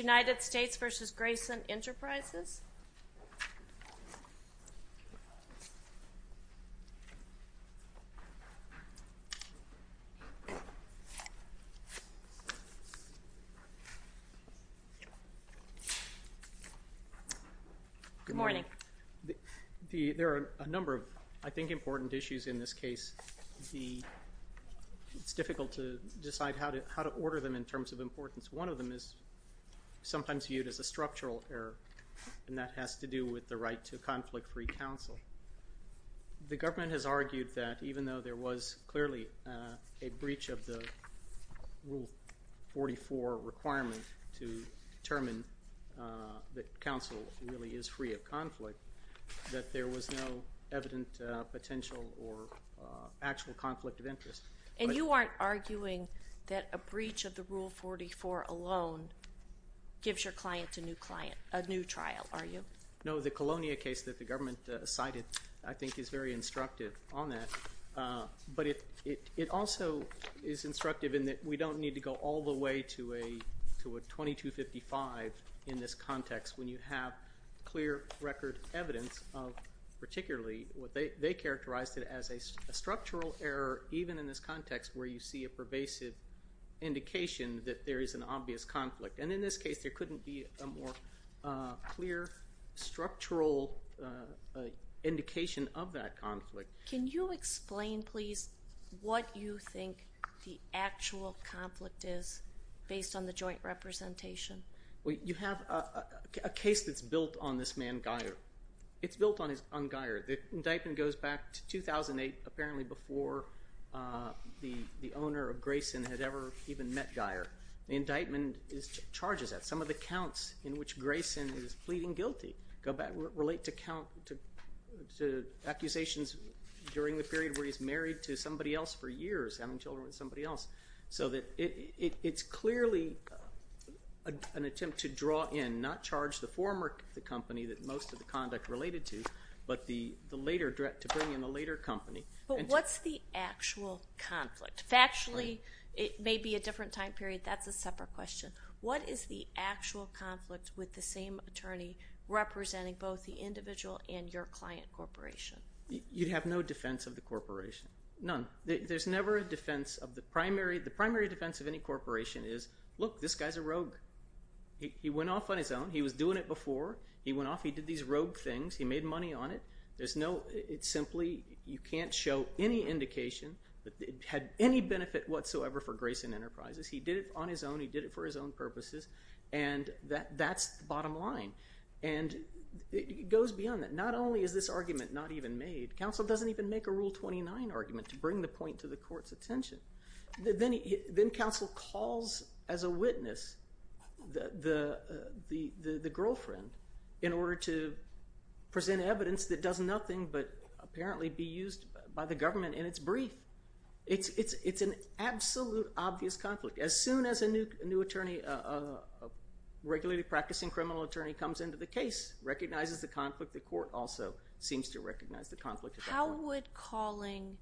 United States v. Grayson Enterprises, Inc. There are a number of, I think, important issues in this case. It's difficult to decide how to order them in terms of importance. One of them is sometimes viewed as a structural error, and that has to do with the right to conflict-free counsel. The government has argued that even though there was clearly a breach of the Rule 44 requirement to determine that counsel really is free of conflict, that there was no evident potential or actual conflict of interest. And you aren't arguing that a breach of the Rule 44 alone gives your client a new trial, are you? No. The Colonia case that the government cited, I think, is very instructive on that. But it also is instructive in that we don't need to go all the way to a 2255 in this context when you have clear record evidence of particularly what they characterized as a structural error even in this context where you see a pervasive indication that there is an obvious conflict. And in this case, there couldn't be a more clear structural indication of that conflict. Can you explain, please, what you think the actual conflict is based on the joint representation? Well, you have a case that's built on this man Geyer. It's built on Geyer. The indictment goes back to 2008, apparently before the owner of Grayson had ever even met Geyer. The indictment charges that. Some of the counts in which Grayson is pleading guilty relate to accusations during the period where he's married to somebody else for years, having children with somebody else. So that it's clearly an attempt to draw in, not charge the former company that most of the conduct related to, but the later threat to bring in the later company. But what's the actual conflict? Factually, it may be a different time period. That's a separate question. What is the actual conflict with the same attorney representing both the individual and your client corporation? You'd have no defense of the corporation, none. There's never a defense of the primary. The primary defense of any corporation is, look, this guy's a rogue. He went off on his own. He was doing it before. He went off. He did these rogue things. He made money on it. There's no, it's simply, you can't show any indication that it had any benefit whatsoever for Grayson Enterprises. He did it on his own. He did it for his own purposes. And that's the bottom line. And it goes beyond that. Not only is this argument not even made, counsel doesn't even make a Rule 29 argument to bring the point to the court's attention. Then counsel calls as a witness the girlfriend in order to present evidence that does nothing but apparently be used by the government in its brief. It's an absolute obvious conflict. As soon as a new attorney, a regulated practicing criminal attorney comes into the case, recognizes How would calling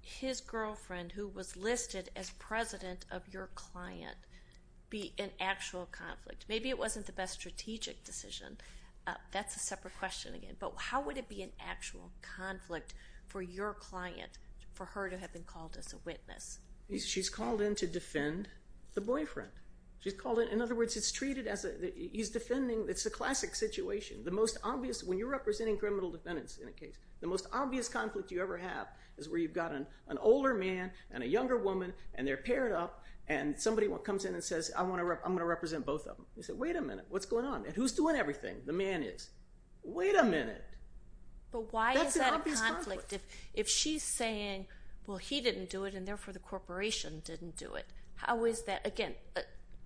his girlfriend, who was listed as president of your client, be an actual conflict? Maybe it wasn't the best strategic decision. That's a separate question again. But how would it be an actual conflict for your client, for her to have been called as a witness? She's called in to defend the boyfriend. She's called in, in other words, it's treated as a, he's defending, it's a classic situation. The most obvious, when you're representing criminal defendants in a case, the most obvious conflict you ever have is where you've got an older man and a younger woman and they're paired up and somebody comes in and says, I'm going to represent both of them. You say, wait a minute. What's going on? And who's doing everything? The man is. Wait a minute. That's an obvious conflict. But why is that a conflict if she's saying, well, he didn't do it and therefore the corporation didn't do it? How is that? Again,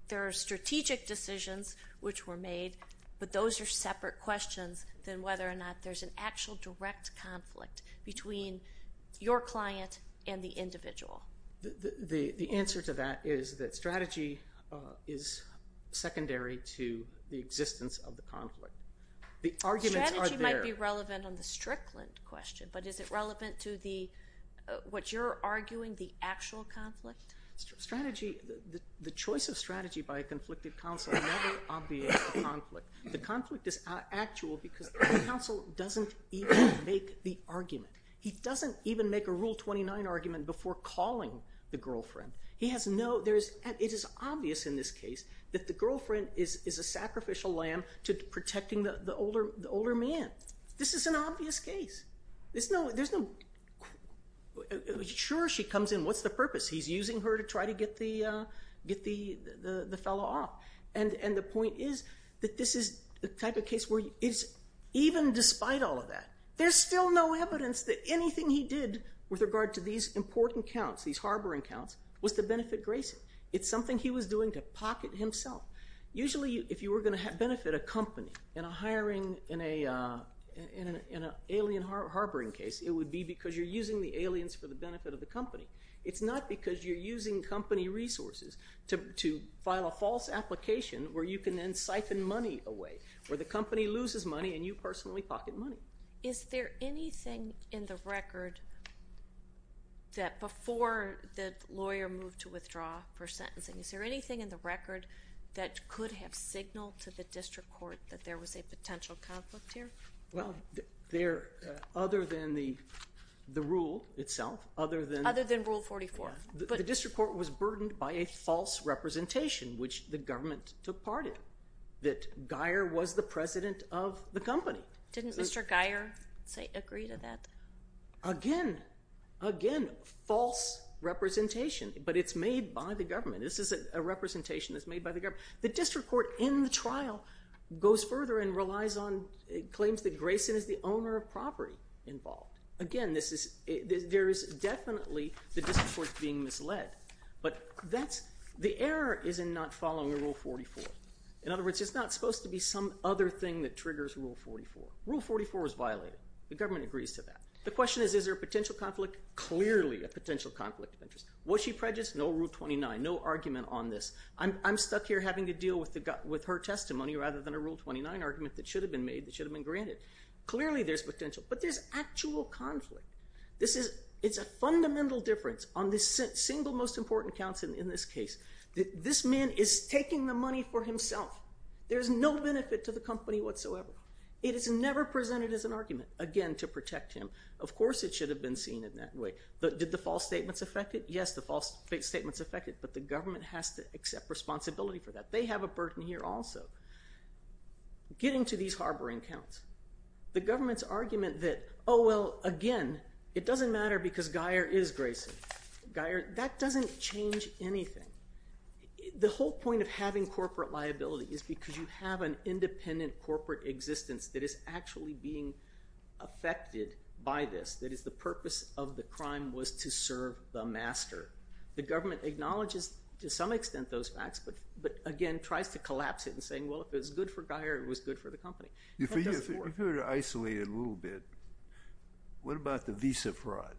there are strategic decisions which were made, but those are separate questions than whether or not there's an actual direct conflict between your client and the individual. The answer to that is that strategy is secondary to the existence of the conflict. The arguments are there. Strategy might be relevant on the Strickland question, but is it relevant to the, what you're arguing, the actual conflict? Strategy, the choice of strategy by a conflicted counsel never obviates the conflict. The conflict is actual because the counsel doesn't even make the argument. He doesn't even make a Rule 29 argument before calling the girlfriend. He has no, there is, it is obvious in this case that the girlfriend is a sacrificial lamb to protecting the older man. This is an obvious case. There's no, sure she comes in. What's the purpose? He's using her to try to get the fellow off. And the point is that this is the type of case where it's, even despite all of that, there's still no evidence that anything he did with regard to these important counts, these harboring counts, was to benefit Grayson. It's something he was doing to pocket himself. Usually if you were going to benefit a company in a hiring, in an alien harboring case, it would be because you're using the aliens for the benefit of the company. It's not because you're using company resources to file a false application where you can then siphon money away, where the company loses money and you personally pocket money. Is there anything in the record that, before the lawyer moved to withdraw for sentencing, is there anything in the record that could have signaled to the district court that there was a potential conflict here? Well, there, other than the rule itself, other than— Other than Rule 44. But— The district court was burdened by a false representation, which the government took part in, that Geyer was the president of the company. Didn't Mr. Geyer agree to that? Again, again, false representation. But it's made by the government. This is a representation that's made by the government. The district court, in the trial, goes further and relies on—claims that Grayson is the owner of property involved. Again, this is—there is definitely the district court being misled. But that's—the error is in not following Rule 44. In other words, it's not supposed to be some other thing that triggers Rule 44. Rule 44 was violated. The government agrees to that. The question is, is there a potential conflict? Clearly a potential conflict of interest. Was she prejudiced? No Rule 29. No argument on this. I'm stuck here having to deal with her testimony rather than a Rule 29 argument that should have been made, that should have been granted. Clearly there's potential. But there's actual conflict. This is—it's a fundamental difference on the single most important counts in this case. This man is taking the money for himself. There's no benefit to the company whatsoever. It is never presented as an argument, again, to protect him. Of course it should have been seen in that way. Did the false statements affect it? Yes, the false statements affect it, but the government has to accept responsibility for that. They have a burden here also. Getting to these harboring counts, the government's argument that, oh, well, again, it doesn't matter because Geyer is Grayson—Geyer—that doesn't change anything. The whole point of having corporate liability is because you have an independent corporate existence that is actually being affected by this, that is, the purpose of the crime was to serve the master. The government acknowledges to some extent those facts, but, again, tries to collapse it in saying, well, if it was good for Geyer, it was good for the company. If you were to isolate it a little bit, what about the visa fraud?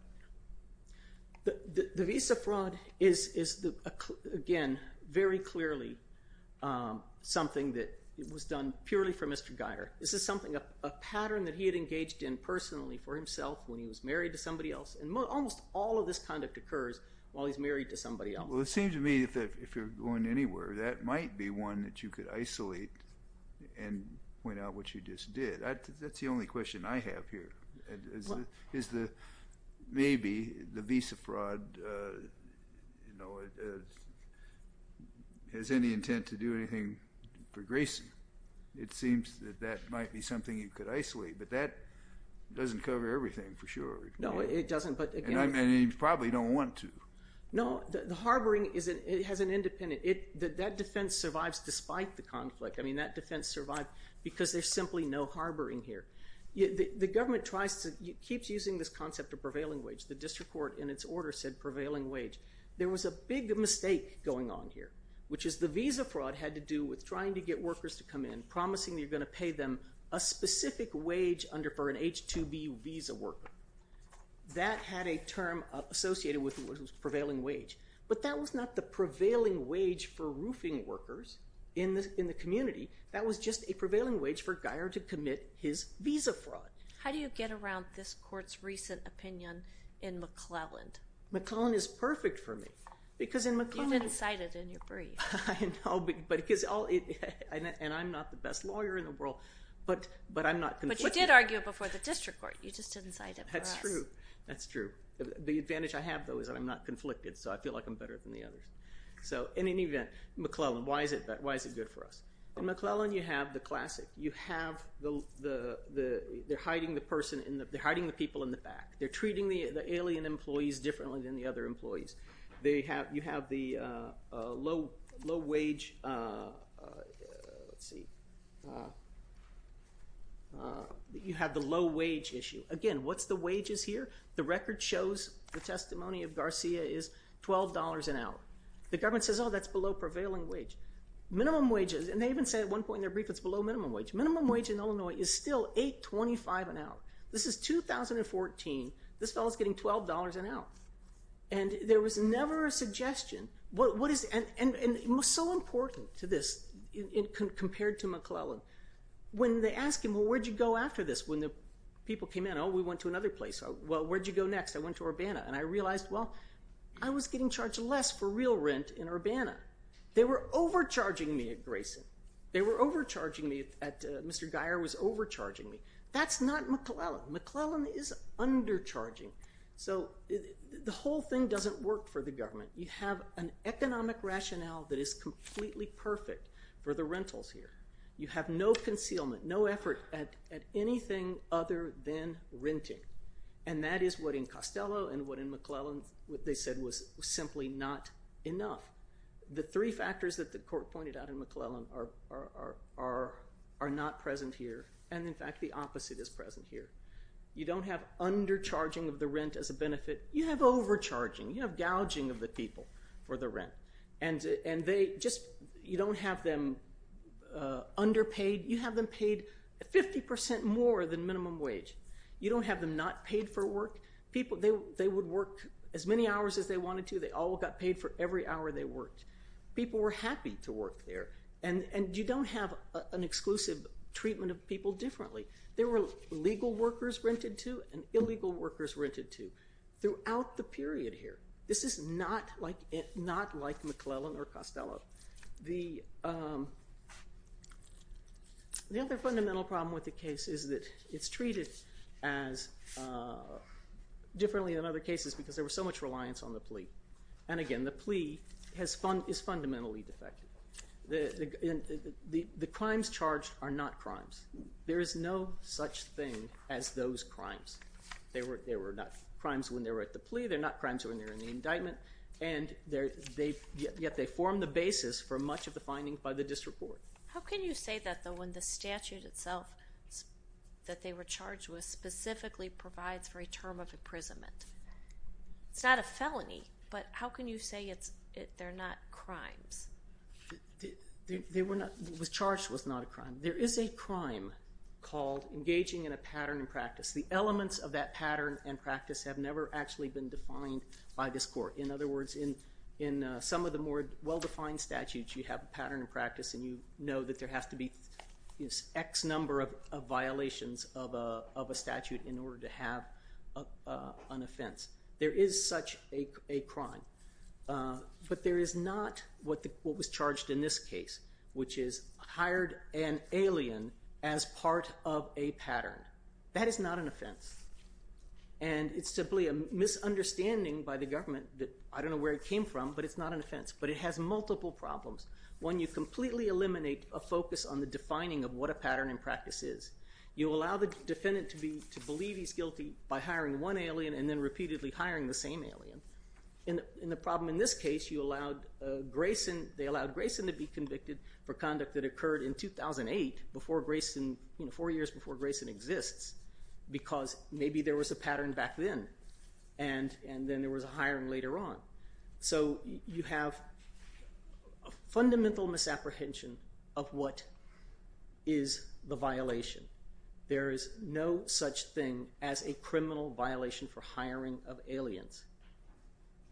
The visa fraud is, again, very clearly something that was done purely for Mr. Geyer. This is something—a pattern that he had engaged in personally for himself when he was married to somebody else, and almost all of this conduct occurs while he's married to somebody else. Well, it seems to me that if you're going anywhere, that might be one that you could isolate and point out what you just did. That's the only question I have here, is that maybe the visa fraud has any intent to do anything for Grayson. It seems that that might be something you could isolate, but that doesn't cover everything, for sure. No, it doesn't, but— And you probably don't want to. No, the harboring has an independent—that defense survives despite the conflict. I mean, that defense survived because there's simply no harboring here. The government keeps using this concept of prevailing wage. The district court, in its order, said prevailing wage. There was a big mistake going on here, which is the visa fraud had to do with trying to get workers to come in, promising you're going to pay them a specific wage for an H-2B visa worker. That had a term associated with prevailing wage, but that was not the prevailing wage for roofing workers in the community. That was just a prevailing wage for Geyer to commit his visa fraud. How do you get around this court's recent opinion in McClelland? McClelland is perfect for me, because in McClelland— You didn't cite it in your brief. I know, but because—and I'm not the best lawyer in the world, but I'm not— But you did argue it before the district court. You just didn't cite it for us. That's true. That's true. The advantage I have, though, is that I'm not conflicted, so I feel like I'm better than the others. So, in any event, McClelland, why is it good for us? In McClelland, you have the classic. You have the—they're hiding the person in the—they're hiding the people in the back. They're treating the alien employees differently than the other employees. You have the low-wage—let's see—you have the low-wage issue. Again, what's the wages here? The record shows the testimony of Garcia is $12 an hour. The government says, oh, that's below prevailing wage. Minimum wages—and they even say at one point in their brief it's below minimum wage. Minimum wage in Illinois is still $8.25 an hour. This is 2014. This fellow's getting $12 an hour. And there was never a suggestion—and it was so important to this compared to McClelland. When they asked him, well, where'd you go after this? When the people came in, oh, we went to another place. Well, where'd you go next? I went to Urbana. And I realized, well, I was getting charged less for real rent in Urbana. They were overcharging me at Grayson. They were overcharging me at—Mr. Geyer was overcharging me. That's not McClelland. McClelland is undercharging. So the whole thing doesn't work for the government. You have an economic rationale that is completely perfect for the rentals here. You have no concealment, no effort at anything other than renting. And that is what in Costello and what in McClelland they said was simply not enough. The three factors that the court pointed out in McClelland are not present here. And in fact, the opposite is present here. You don't have undercharging of the rent as a benefit. You have overcharging. You have gouging of the people for the rent. And they just—you don't have them underpaid. You have them paid 50% more than minimum wage. You don't have them not paid for work. They would work as many hours as they wanted to. They all got paid for every hour they worked. People were happy to work there. And you don't have an exclusive treatment of people differently. There were legal workers rented to and illegal workers rented to throughout the period here. This is not like McClelland or Costello. The other fundamental problem with the case is that it's treated as—differently than other cases because there was so much reliance on the plea. And again, the plea is fundamentally defective. The crimes charged are not crimes. There is no such thing as those crimes. They were not crimes when they were at the plea. They're not crimes when they're in the indictment. And yet they form the basis for much of the findings by the district court. How can you say that though when the statute itself that they were charged with specifically provides for a term of imprisonment? It's not a felony, but how can you say it's—they're not crimes? They were not—what was charged was not a crime. There is a crime called engaging in a pattern and practice. The elements of that pattern and practice have never actually been defined by this court. In other words, in some of the more well-defined statutes, you have a pattern and practice and you know that there has to be X number of violations of a statute in order to have an offense. There is such a crime. But there is not what was charged in this case, which is hired an alien as part of a pattern. That is not an offense. And it's simply a misunderstanding by the government that—I don't know where it came from, but it's not an offense. But it has multiple problems. One, you completely eliminate a focus on the defining of what a pattern and practice is. You allow the defendant to believe he's guilty by hiring one alien and then repeatedly hiring the same alien. In the problem in this case, you allowed Grayson—they allowed Grayson to be convicted for conduct that occurred in 2008, before Grayson—four years before Grayson exists, because maybe there was a pattern back then and then there was a hiring later on. So you have a fundamental misapprehension of what is the violation. There is no such thing as a criminal violation for hiring of aliens.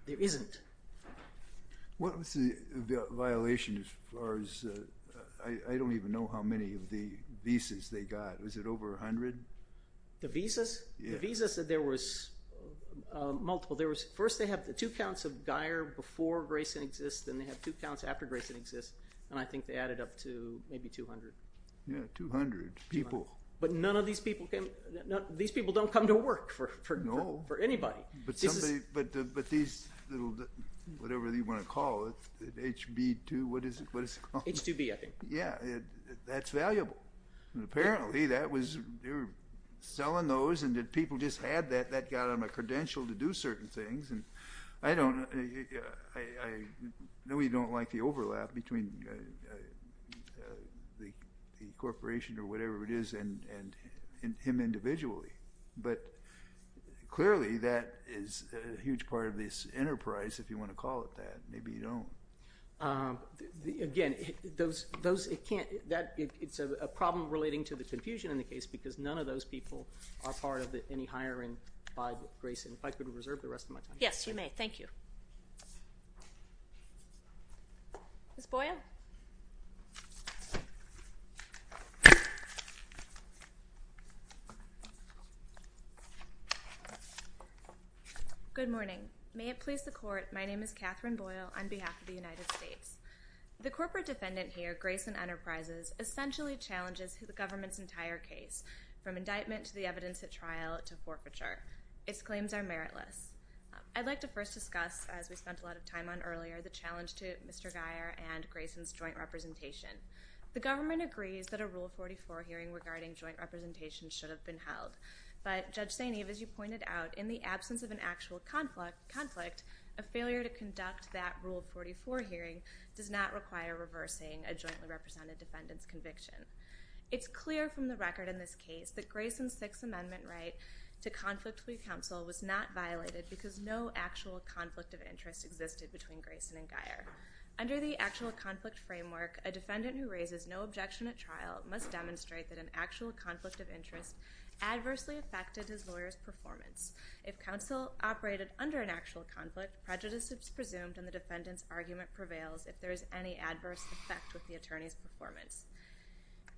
There isn't. What was the violation as far as—I don't even know how many of the visas they got. Was it over 100? The visas? The visas, there was multiple. First they have the two counts of Geier before Grayson exists, then they have two counts after Grayson exists, and I think they added up to maybe 200. Yeah, 200 people. But none of these people came—these people don't come to work for anybody. No. But these little—whatever you want to call it, HB2, what is it called? H2B, I think. Yeah, that's valuable. Apparently that was—they were selling those and people just had that, that got them a credential to do certain things, and I don't—I really don't like the overlap between the corporation or whatever it is and him individually, but clearly that is a huge part of this enterprise if you want to call it that. Maybe you don't. Again, those—it can't—it's a problem relating to the confusion in the case because none of those people are part of any hiring by Grayson. If I could reserve the rest of my time. Yes, you may. Thank you. Ms. Boyle? Good morning. May it please the Court, my name is Catherine Boyle on behalf of the United States. The corporate defendant here, Grayson Enterprises, essentially challenges the government's entire case from indictment to the evidence at trial to forfeiture. Its claims are meritless. I'd like to first discuss, as we spent a lot of time on earlier, the challenge to Mr. Grayson's joint representation. The government agrees that a Rule 44 hearing regarding joint representation should have been held, but Judge St. Eve, as you pointed out, in the absence of an actual conflict, a failure to conduct that Rule 44 hearing does not require reversing a jointly represented defendant's conviction. It's clear from the record in this case that Grayson's Sixth Amendment right to conflict free counsel was not violated because no actual conflict of interest existed between Grayson and Geier. Under the actual conflict framework, a defendant who raises no objection at trial must demonstrate that an actual conflict of interest adversely affected his lawyer's performance. If counsel operated under an actual conflict, prejudice is presumed and the defendant's argument prevails if there is any adverse effect with the attorney's performance.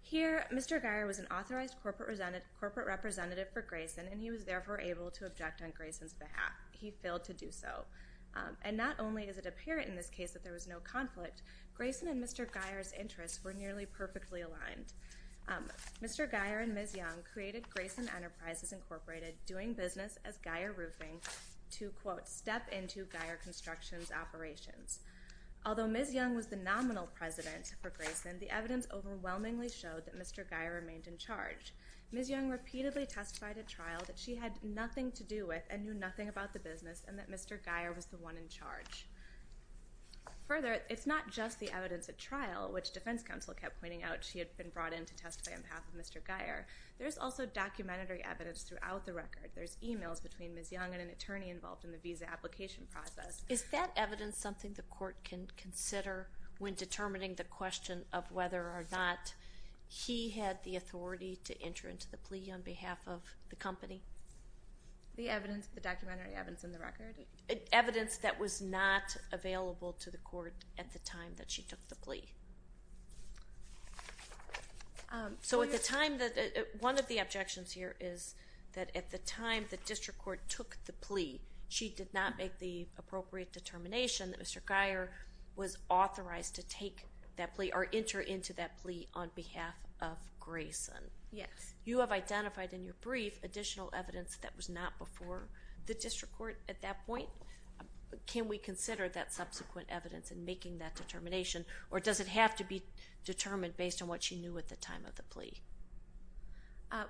Here Mr. Geier was an authorized corporate representative for Grayson and he was therefore able to object on Grayson's behalf. He failed to do so. And not only does it appear in this case that there was no conflict, Grayson and Mr. Geier's interests were nearly perfectly aligned. Mr. Geier and Ms. Young created Grayson Enterprises Incorporated, doing business as Geier Roofing to quote, step into Geier Construction's operations. Although Ms. Young was the nominal president for Grayson, the evidence overwhelmingly showed that Mr. Geier remained in charge. Ms. Young repeatedly testified at trial that she had nothing to do with and knew nothing about the business and that Mr. Geier was the one in charge. Further, it's not just the evidence at trial, which defense counsel kept pointing out she had been brought in to testify on behalf of Mr. Geier. There's also documentary evidence throughout the record. There's emails between Ms. Young and an attorney involved in the visa application process. Is that evidence something the court can consider when determining the question of whether or not he had the authority to enter into the plea on behalf of the company? The evidence, the documentary evidence in the record? Evidence that was not available to the court at the time that she took the plea. So at the time that, one of the objections here is that at the time the district court took the plea, she did not make the appropriate determination that Mr. Geier was authorized to take that plea or enter into that plea on behalf of Grayson. Yes. You have identified in your brief additional evidence that was not before the district court at that point. Can we consider that subsequent evidence in making that determination or does it have to be determined based on what she knew at the time of the plea?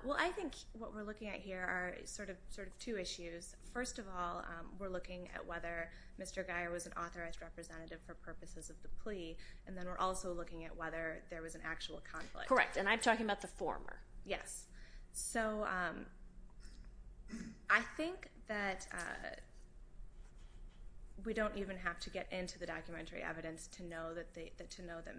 Well, I think what we're looking at here are sort of two issues. First of all, we're looking at whether Mr. Geier was an authorized representative for purposes of the plea and then we're also looking at whether there was an actual conflict. Correct. And I'm talking about the former. Yes. So I think that we don't even have to get into the documentary evidence to know that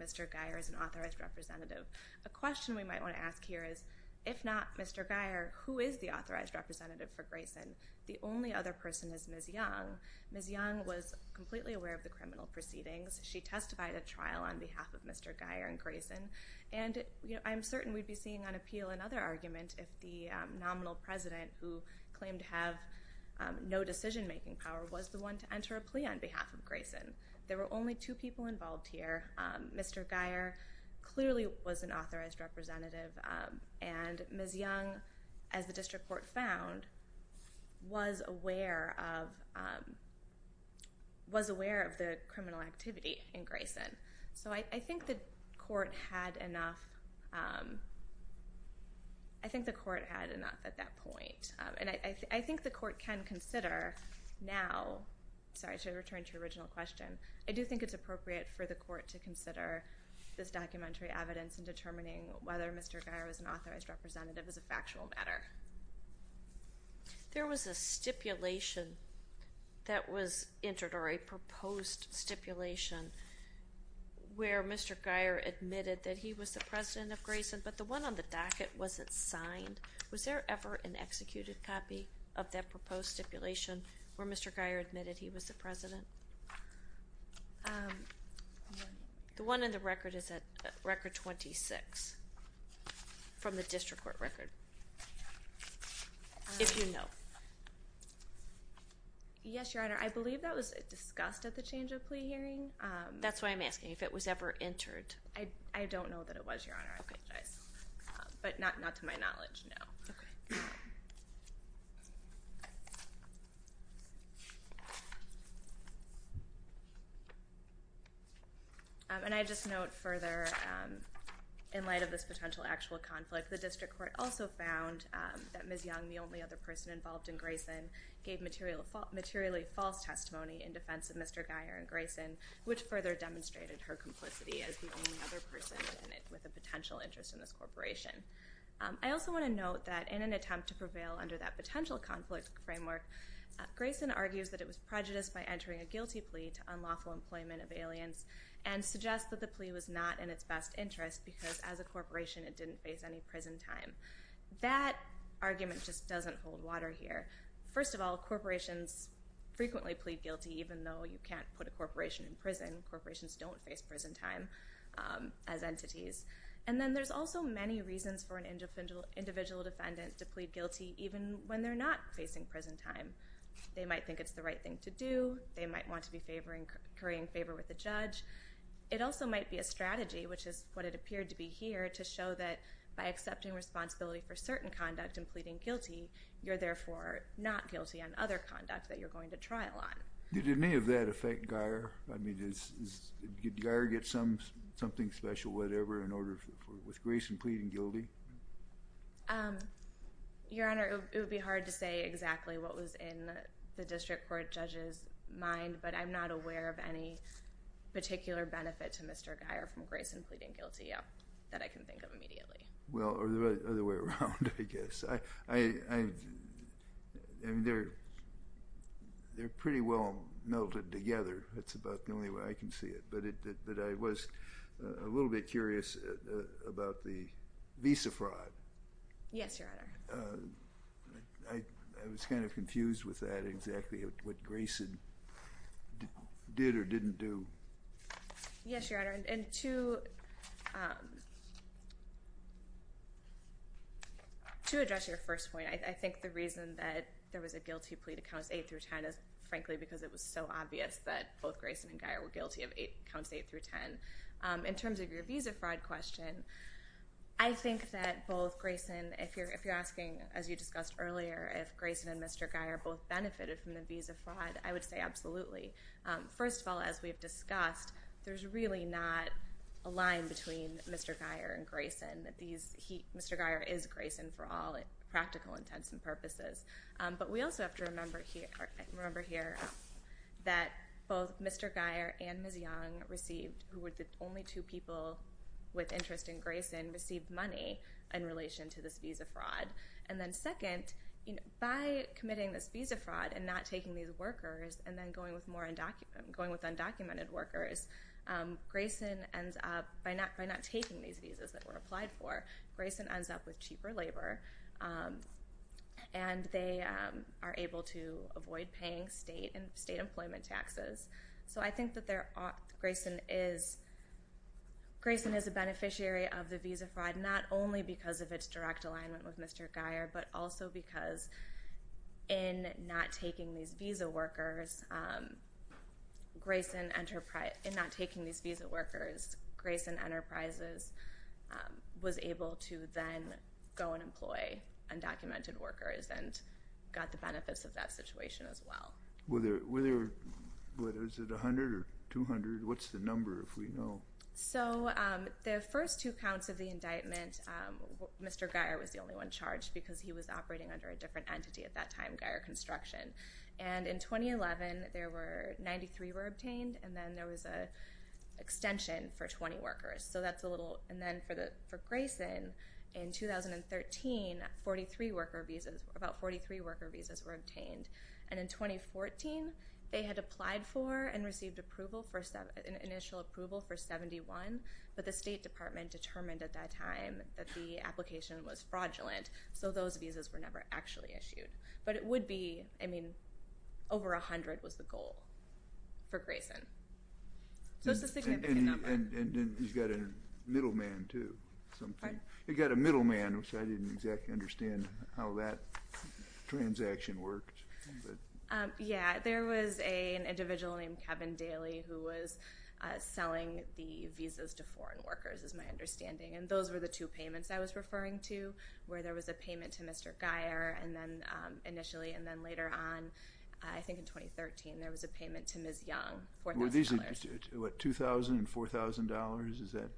Mr. Geier is an authorized representative. A question we might want to ask here is, if not Mr. Geier, who is the authorized representative for Grayson? The only other person is Ms. Young. Ms. Young was completely aware of the criminal proceedings. She testified at trial on behalf of Mr. Geier and Grayson and I'm certain we'd be seeing on appeal another argument if the nominal president who claimed to have no decision-making power was the one to enter a plea on behalf of Grayson. There were only two people involved here. Mr. Geier clearly was an authorized representative and Ms. Young, as the district court found, was aware of the criminal activity in Grayson. So I think the court had enough at that point and I think the court can consider now, sorry to return to your original question, I do think it's appropriate for the court to consider this documentary evidence in determining whether Mr. Geier was an authorized representative as a factual matter. There was a stipulation that was entered or a proposed stipulation where Mr. Geier admitted that he was the president of Grayson, but the one on the docket wasn't signed. Was there ever an executed copy of that proposed stipulation where Mr. Geier admitted he was the president? The one in the record is at record 26 from the district court record, if you know. Yes, Your Honor. I believe that was discussed at the change of plea hearing. That's why I'm asking if it was ever entered. I don't know that it was, Your Honor. I apologize. But not to my knowledge, no. And I just note further, in light of this potential actual conflict, the district court also found that Ms. Young, the only other person involved in Grayson, gave materially false testimony in defense of Mr. Geier and Grayson, which further demonstrated her complicity as the only other person with a potential interest in this corporation. I also want to note that in an attempt to prevail under that potential conflict framework, Grayson argues that it was prejudiced by entering a guilty plea to unlawful employment of aliens and suggests that the plea was not in its best interest because as a corporation it didn't face any prison time. That argument just doesn't hold water here. First of all, corporations frequently plead guilty even though you can't put a corporation in prison. Corporations don't face prison time as entities. And then there's also many reasons for an individual defendant to plead guilty even when they're not facing prison time. They might think it's the right thing to do. They might want to be currying favor with the judge. It also might be a strategy, which is what it appeared to be here, to show that by accepting responsibility for certain conduct and pleading guilty, you're therefore not guilty on other conduct that you're going to trial on. Did any of that affect Geier? I mean, did Geier get something special, whatever, with Grayson pleading guilty? Your Honor, it would be hard to say exactly what was in the district court judge's mind, but I'm not aware of any particular benefit to Mr. Geier from Grayson pleading guilty that I can think of immediately. Well, or the other way around, I guess. I mean, they're pretty well melded together. That's about the only way I can see it. But I was a little bit curious about the visa fraud. Yes, Your Honor. I was kind of confused with that, exactly what Grayson did or didn't do. Yes, Your Honor. And to address your first point, I think the reason that there was a guilty plea to counts 8 through 10 is, frankly, because it was so obvious that both Grayson and Geier were guilty of counts 8 through 10. In terms of your visa fraud question, I think that both Grayson, if you're asking, as you discussed earlier, if Grayson and Mr. Geier both benefited from the visa fraud, I would say absolutely. First of all, as we've discussed, there's really not a line between Mr. Geier and Grayson. Mr. Geier is Grayson for all practical intents and purposes. But we also have to remember here that both Mr. Geier and Ms. Young received, who were the only two people with interest in Grayson, received money in relation to this visa fraud. And then second, by committing this visa fraud and not taking these workers and then going with undocumented workers, Grayson ends up, by not taking these visas that were applied for, Grayson ends up with cheaper labor, and they are able to avoid paying state employment taxes. So I think that Grayson is a beneficiary of the visa fraud, not only because of its direct alignment with Mr. Geier, but also because in not taking these visa workers, Grayson Enterprises was able to then go and employ undocumented workers and got the benefits of that situation as well. Were there, was it 100 or 200? What's the number, if we know? So the first two counts of the indictment, Mr. Geier was the only one charged because he was operating under a different entity at that time, Geier Construction. And in 2011, there were, 93 were obtained, and then there was an extension for 20 workers. So that's a little, and then for Grayson, in 2013, 43 worker visas, about 43 worker visas were obtained. And in 2014, they had applied for and received approval for, initial approval for 71, but the State Department determined at that time that the application was fraudulent, so those visas were never actually issued. But it would be, I mean, over 100 was the goal for Grayson. So it's a significant number. And he's got a middleman, too. Pardon? He's got a middleman, which I didn't exactly understand how that transaction worked. Yeah, there was an individual named Kevin Daly who was selling the visas to foreign workers, is my understanding, and those were the two payments I was referring to, where there was a payment to Mr. Geier initially, and then later on, I think in 2013, there was a payment to Ms. Young, $4,000. What, $2,000 and $4,000, is that?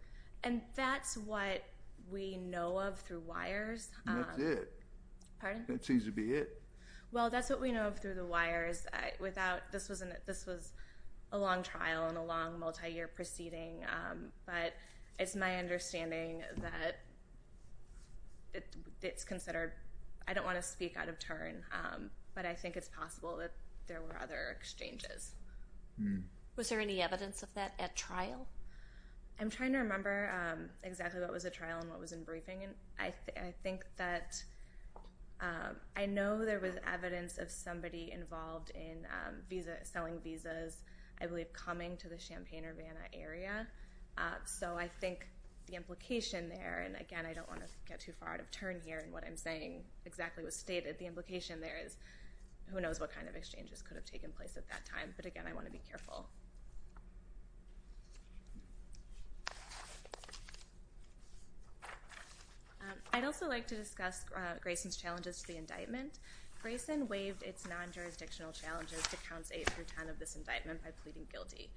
And that's what we know of through wires. That's it. Pardon? That seems to be it. Well, that's what we know of through the wires. Without, this was a long trial and a long multi-year proceeding, but it's my understanding that it's considered, I don't want to speak out of turn, but I think it's possible that there were other exchanges. Was there any evidence of that at trial? I'm trying to remember exactly what was at trial and what was in briefing. I think that, I know there was evidence of somebody involved in selling visas, I believe coming to the Champaign-Urbana area. So I think the implication there, and again, I don't want to get too far out of turn here in what I'm saying exactly was stated. The implication there is, who knows what kind of exchanges could have taken place at that time, but again, I want to be careful. I'd also like to discuss Grayson's challenges to the indictment. Grayson waived its non-jurisdictional challenges to counts 8 through 10 of this indictment by pleading guilty.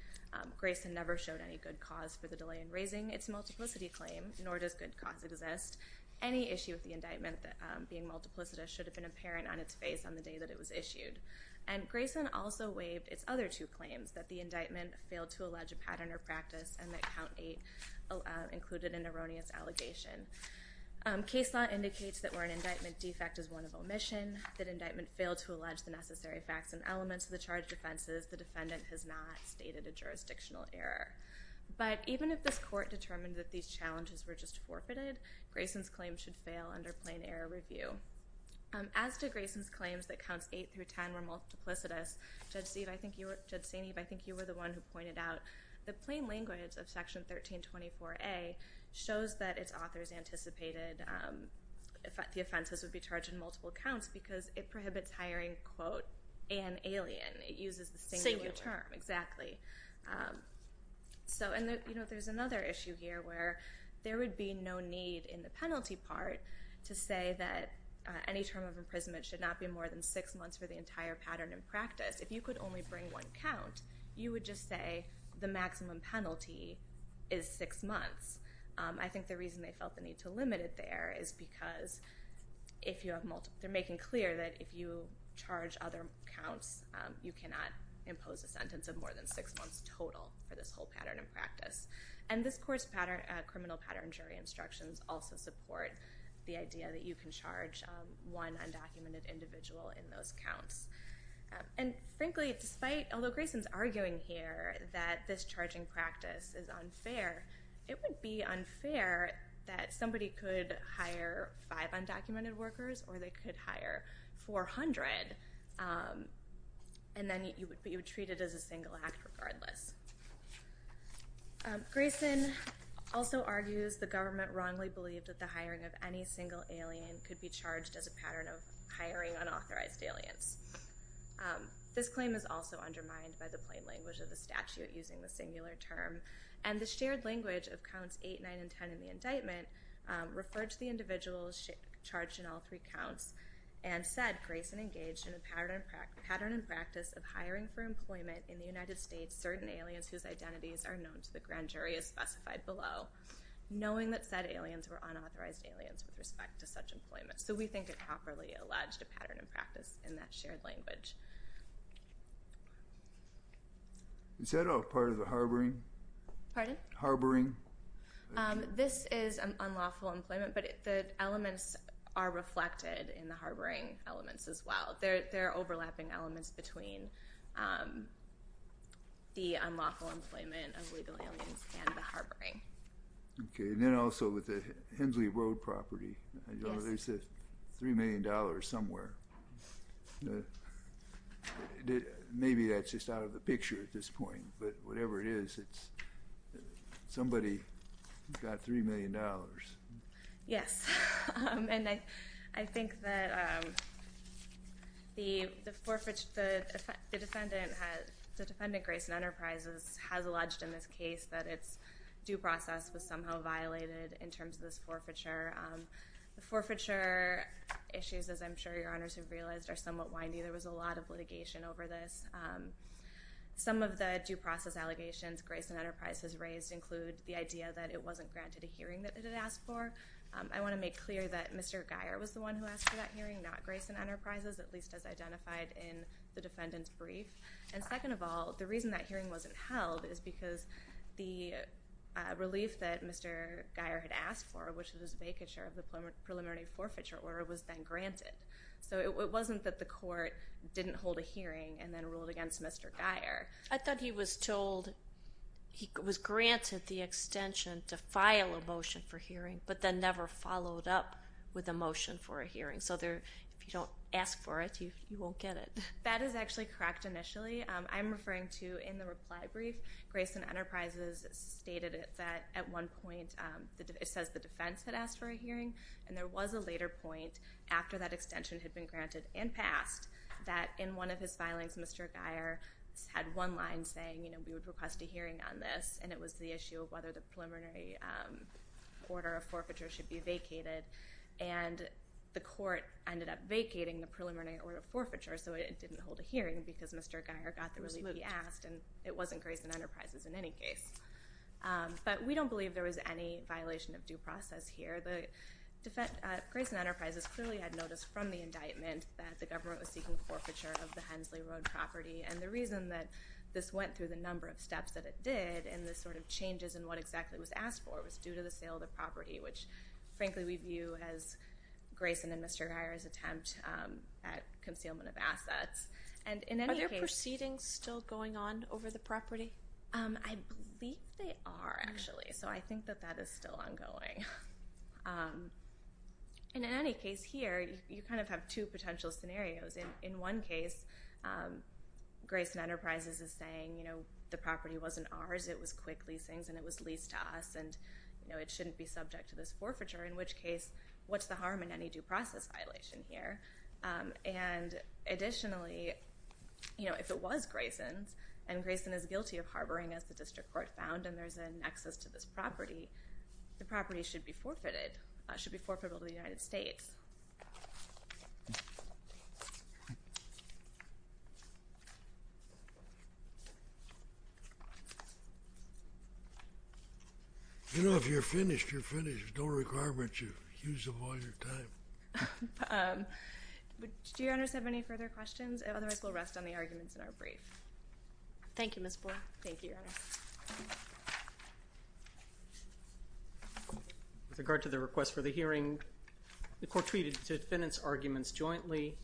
Grayson never showed any good cause for the delay in raising its multiplicity claim, nor does good cause exist. Any issue with the indictment being multiplicitous should have been apparent on its face on the day that it was issued. And Grayson also waived its other two claims, that the indictment failed to allege a pattern or practice, and that count 8 included an erroneous allegation. Case law indicates that where an indictment defect is one of omission, that indictment failed to allege the necessary facts and elements of the charged offenses, the defendant has not stated a jurisdictional error. But even if this court determined that these challenges were just forfeited, Grayson's claims should fail under plain error review. As to Grayson's claims that counts 8 through 10 were multiplicitous, Judge Saineev, I think you were the one who pointed out the plain language of Section 1324A shows that its authors anticipated the offenses would be charged in multiple counts because it prohibits hiring quote, an alien. It uses the singular term. Singular. Exactly. So, and there's another issue here where there would be no need in the penalty part to say that any term of imprisonment should not be more than six months for the entire pattern and practice. If you could only bring one count, you would just say the maximum penalty is six months. I think the reason they felt the need to limit it there is because if you have multiple, they're making clear that if you charge other counts, you cannot impose a sentence of more than six months total for this whole pattern and practice. And this court's criminal pattern jury instructions also support the idea that you can charge one undocumented individual in those counts. And frankly, despite, although Grayson's arguing here that this charging practice is unfair, it would be unfair that somebody could hire five undocumented workers or they could hire 400 and then you would treat it as a single act regardless. Grayson also argues the government wrongly believed that the hiring of any single alien could be charged as a pattern of hiring unauthorized aliens. This claim is also undermined by the plain language of the statute using the singular term and the shared language of counts 8, 9, and 10 in the indictment referred to the individuals charged in all three counts and said Grayson engaged in a pattern and practice of hiring for employment in the United States certain aliens whose identities are known to the grand jury as specified below, knowing that said aliens were unauthorized aliens with respect to such employment. So we think it properly alleged a pattern and practice in that shared language. Is that all part of the harboring? Pardon? Harboring. This is unlawful employment, but the elements are reflected in the harboring elements as well. They're overlapping elements between the unlawful employment of legal aliens and the harboring. Okay. And then also with the Hensley Road property, they said $3 million somewhere. Maybe that's just out of the picture at this point, but whatever it is, somebody got $3 million. Yes. And I think that the defendant, Grayson Enterprises, has alleged in this case that its due process was somehow violated in terms of this forfeiture. The forfeiture issues, as I'm sure Your Honors have realized, are somewhat windy. There was a lot of litigation over this. Some of the due process allegations Grayson Enterprises raised include the idea that it wasn't granted a hearing that it had asked for. I want to make clear that Mr. Guyer was the one who asked for that hearing, not Grayson Enterprises, at least as identified in the defendant's brief. And second of all, the reason that hearing wasn't held is because the relief that Mr. Guyer had taken share of the preliminary forfeiture order was then granted. So it wasn't that the court didn't hold a hearing and then ruled against Mr. Guyer. I thought he was told he was granted the extension to file a motion for hearing, but then never followed up with a motion for a hearing. So if you don't ask for it, you won't get it. That is actually correct initially. I'm referring to in the reply brief, Grayson Enterprises stated that at one point it says that the defense had asked for a hearing, and there was a later point after that extension had been granted and passed that in one of his filings, Mr. Guyer had one line saying we would request a hearing on this, and it was the issue of whether the preliminary order of forfeiture should be vacated. And the court ended up vacating the preliminary order of forfeiture, so it didn't hold a hearing because Mr. Guyer got the relief he asked, and it wasn't Grayson Enterprises in any case. But we don't believe there was any violation of due process here. Grayson Enterprises clearly had notice from the indictment that the government was seeking forfeiture of the Hensley Road property, and the reason that this went through the number of steps that it did and the sort of changes in what exactly was asked for was due to the sale of the property, which frankly we view as Grayson and Mr. Guyer's attempt at concealment of assets. Are there proceedings still going on over the property? I believe they are actually, so I think that that is still ongoing. And in any case here, you kind of have two potential scenarios. In one case, Grayson Enterprises is saying the property wasn't ours, it was quick leasings and it was leased to us, and it shouldn't be subject to this forfeiture, in which case what's the harm in any due process violation here? And additionally, you know, if it was Grayson's, and Grayson is guilty of harboring as the district court found and there's a nexus to this property, the property should be forfeited, should be forfeitable to the United States. You know, if you're finished, you're finished. There's no requirement to use up all your time. Do your honors have any further questions? Otherwise, we'll rest on the arguments in our brief. Thank you, Ms. Boyle. Thank you, Your Honor. With regard to the request for the hearing, the court treated the defendant's arguments jointly,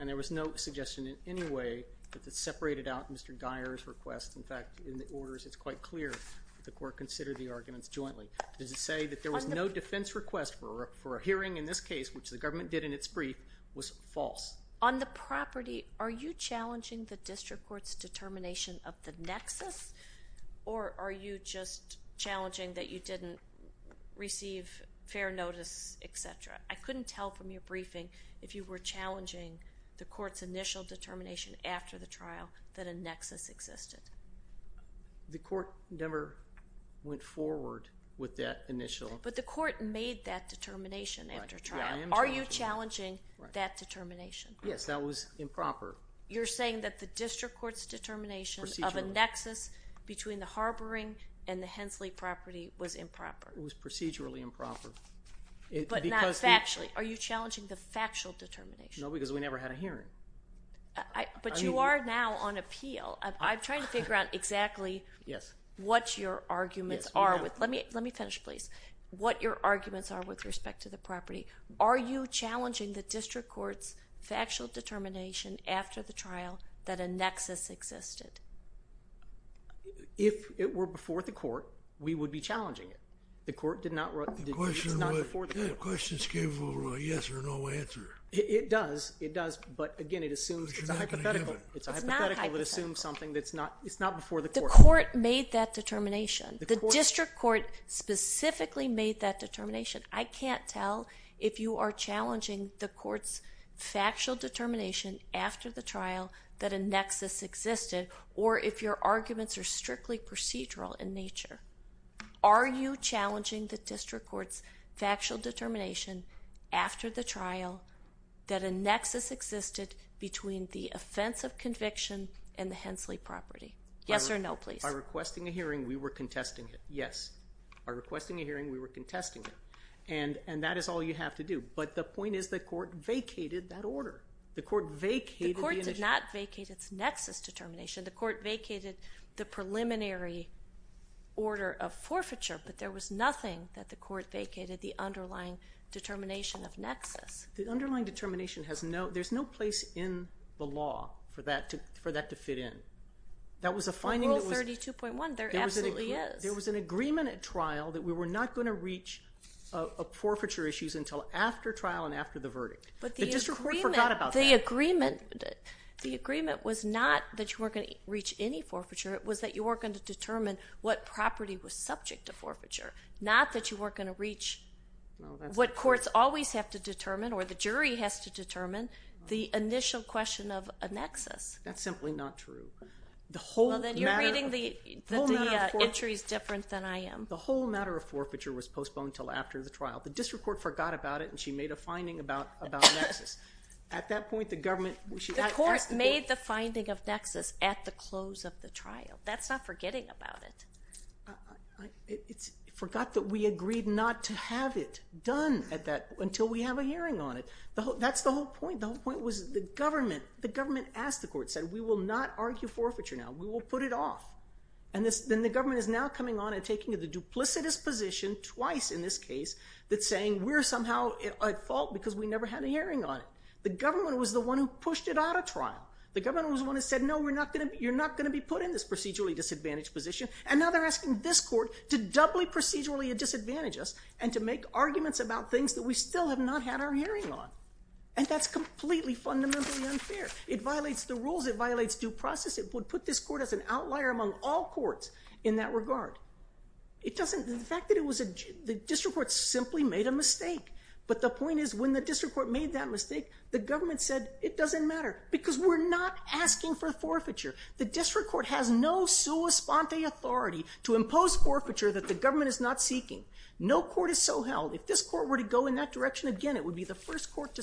and there was no suggestion in any way that this separated out Mr. Guyer's request. In fact, in the orders, it's quite clear that the court considered the arguments jointly. Does it say that there was no defense request for a hearing in this case, which the government did in its brief, was false? On the property, are you challenging the district court's determination of the nexus, or are you just challenging that you didn't receive fair notice, et cetera? I couldn't tell from your briefing if you were challenging the court's initial determination after the trial that a nexus existed. The court never went forward with that initial. But the court made that determination after trial. Are you challenging that determination? Yes, that was improper. You're saying that the district court's determination of a nexus between the harboring and the Hensley property was improper? It was procedurally improper. But not factually. Are you challenging the factual determination? No, because we never had a hearing. But you are now on appeal. I'm trying to figure out exactly what your arguments are. Let me finish, please. What your arguments are with respect to the property. Are you challenging the district court's factual determination after the trial that a nexus existed? If it were before the court, we would be challenging it. The court did not, it's not before the court. The question is, can you give a yes or no answer? It does, it does. But again, it assumes, it's a hypothetical. It's not a hypothetical. It assumes something that's not, it's not before the court. The court made that determination. The district court specifically made that determination. I can't tell if you are challenging the court's factual determination after the trial that a nexus existed, or if your arguments are strictly procedural in nature. Are you challenging the district court's factual determination after the trial that a nexus existed between the offense of conviction and the Hensley property? Yes or no, please. By requesting a hearing, we were contesting it. Yes. By requesting a hearing, we were contesting it. And that is all you have to do. But the point is the court vacated that order. The court vacated the initiative. The court did not vacate its nexus determination. The court vacated the preliminary order of forfeiture, but there was nothing that the court vacated the underlying determination of nexus. The underlying determination has no, there's no place in the law for that to fit in. In Rule 32.1, there absolutely is. There was an agreement at trial that we were not going to reach forfeiture issues until after trial and after the verdict. But the agreement was not that you weren't going to reach any forfeiture. It was that you weren't going to determine what property was subject to forfeiture, not that you weren't going to reach what courts always have to determine That's simply not true. Well, then you're reading the entries different than I am. The whole matter of forfeiture was postponed until after the trial. The district court forgot about it, and she made a finding about nexus. At that point, the government, she asked the court. The court made the finding of nexus at the close of the trial. That's not forgetting about it. It's forgot that we agreed not to have it done until we have a hearing on it. That's the whole point. The whole point was the government asked the court, said we will not argue forfeiture now. We will put it off. Then the government is now coming on and taking the duplicitous position twice in this case that's saying we're somehow at fault because we never had a hearing on it. The government was the one who pushed it out of trial. The government was the one that said, no, you're not going to be put in this procedurally disadvantaged position, and now they're asking this court to doubly procedurally disadvantage us and to make arguments about things that we still have not had our hearing on. And that's completely fundamentally unfair. It violates the rules. It violates due process. It would put this court as an outlier among all courts in that regard. The fact that the district court simply made a mistake, but the point is when the district court made that mistake, the government said it doesn't matter because we're not asking for forfeiture. The district court has no sua sponte authority to impose forfeiture that the government is not seeking. No court is so held. If this court were to go in that direction, again, it would be the first court to so held.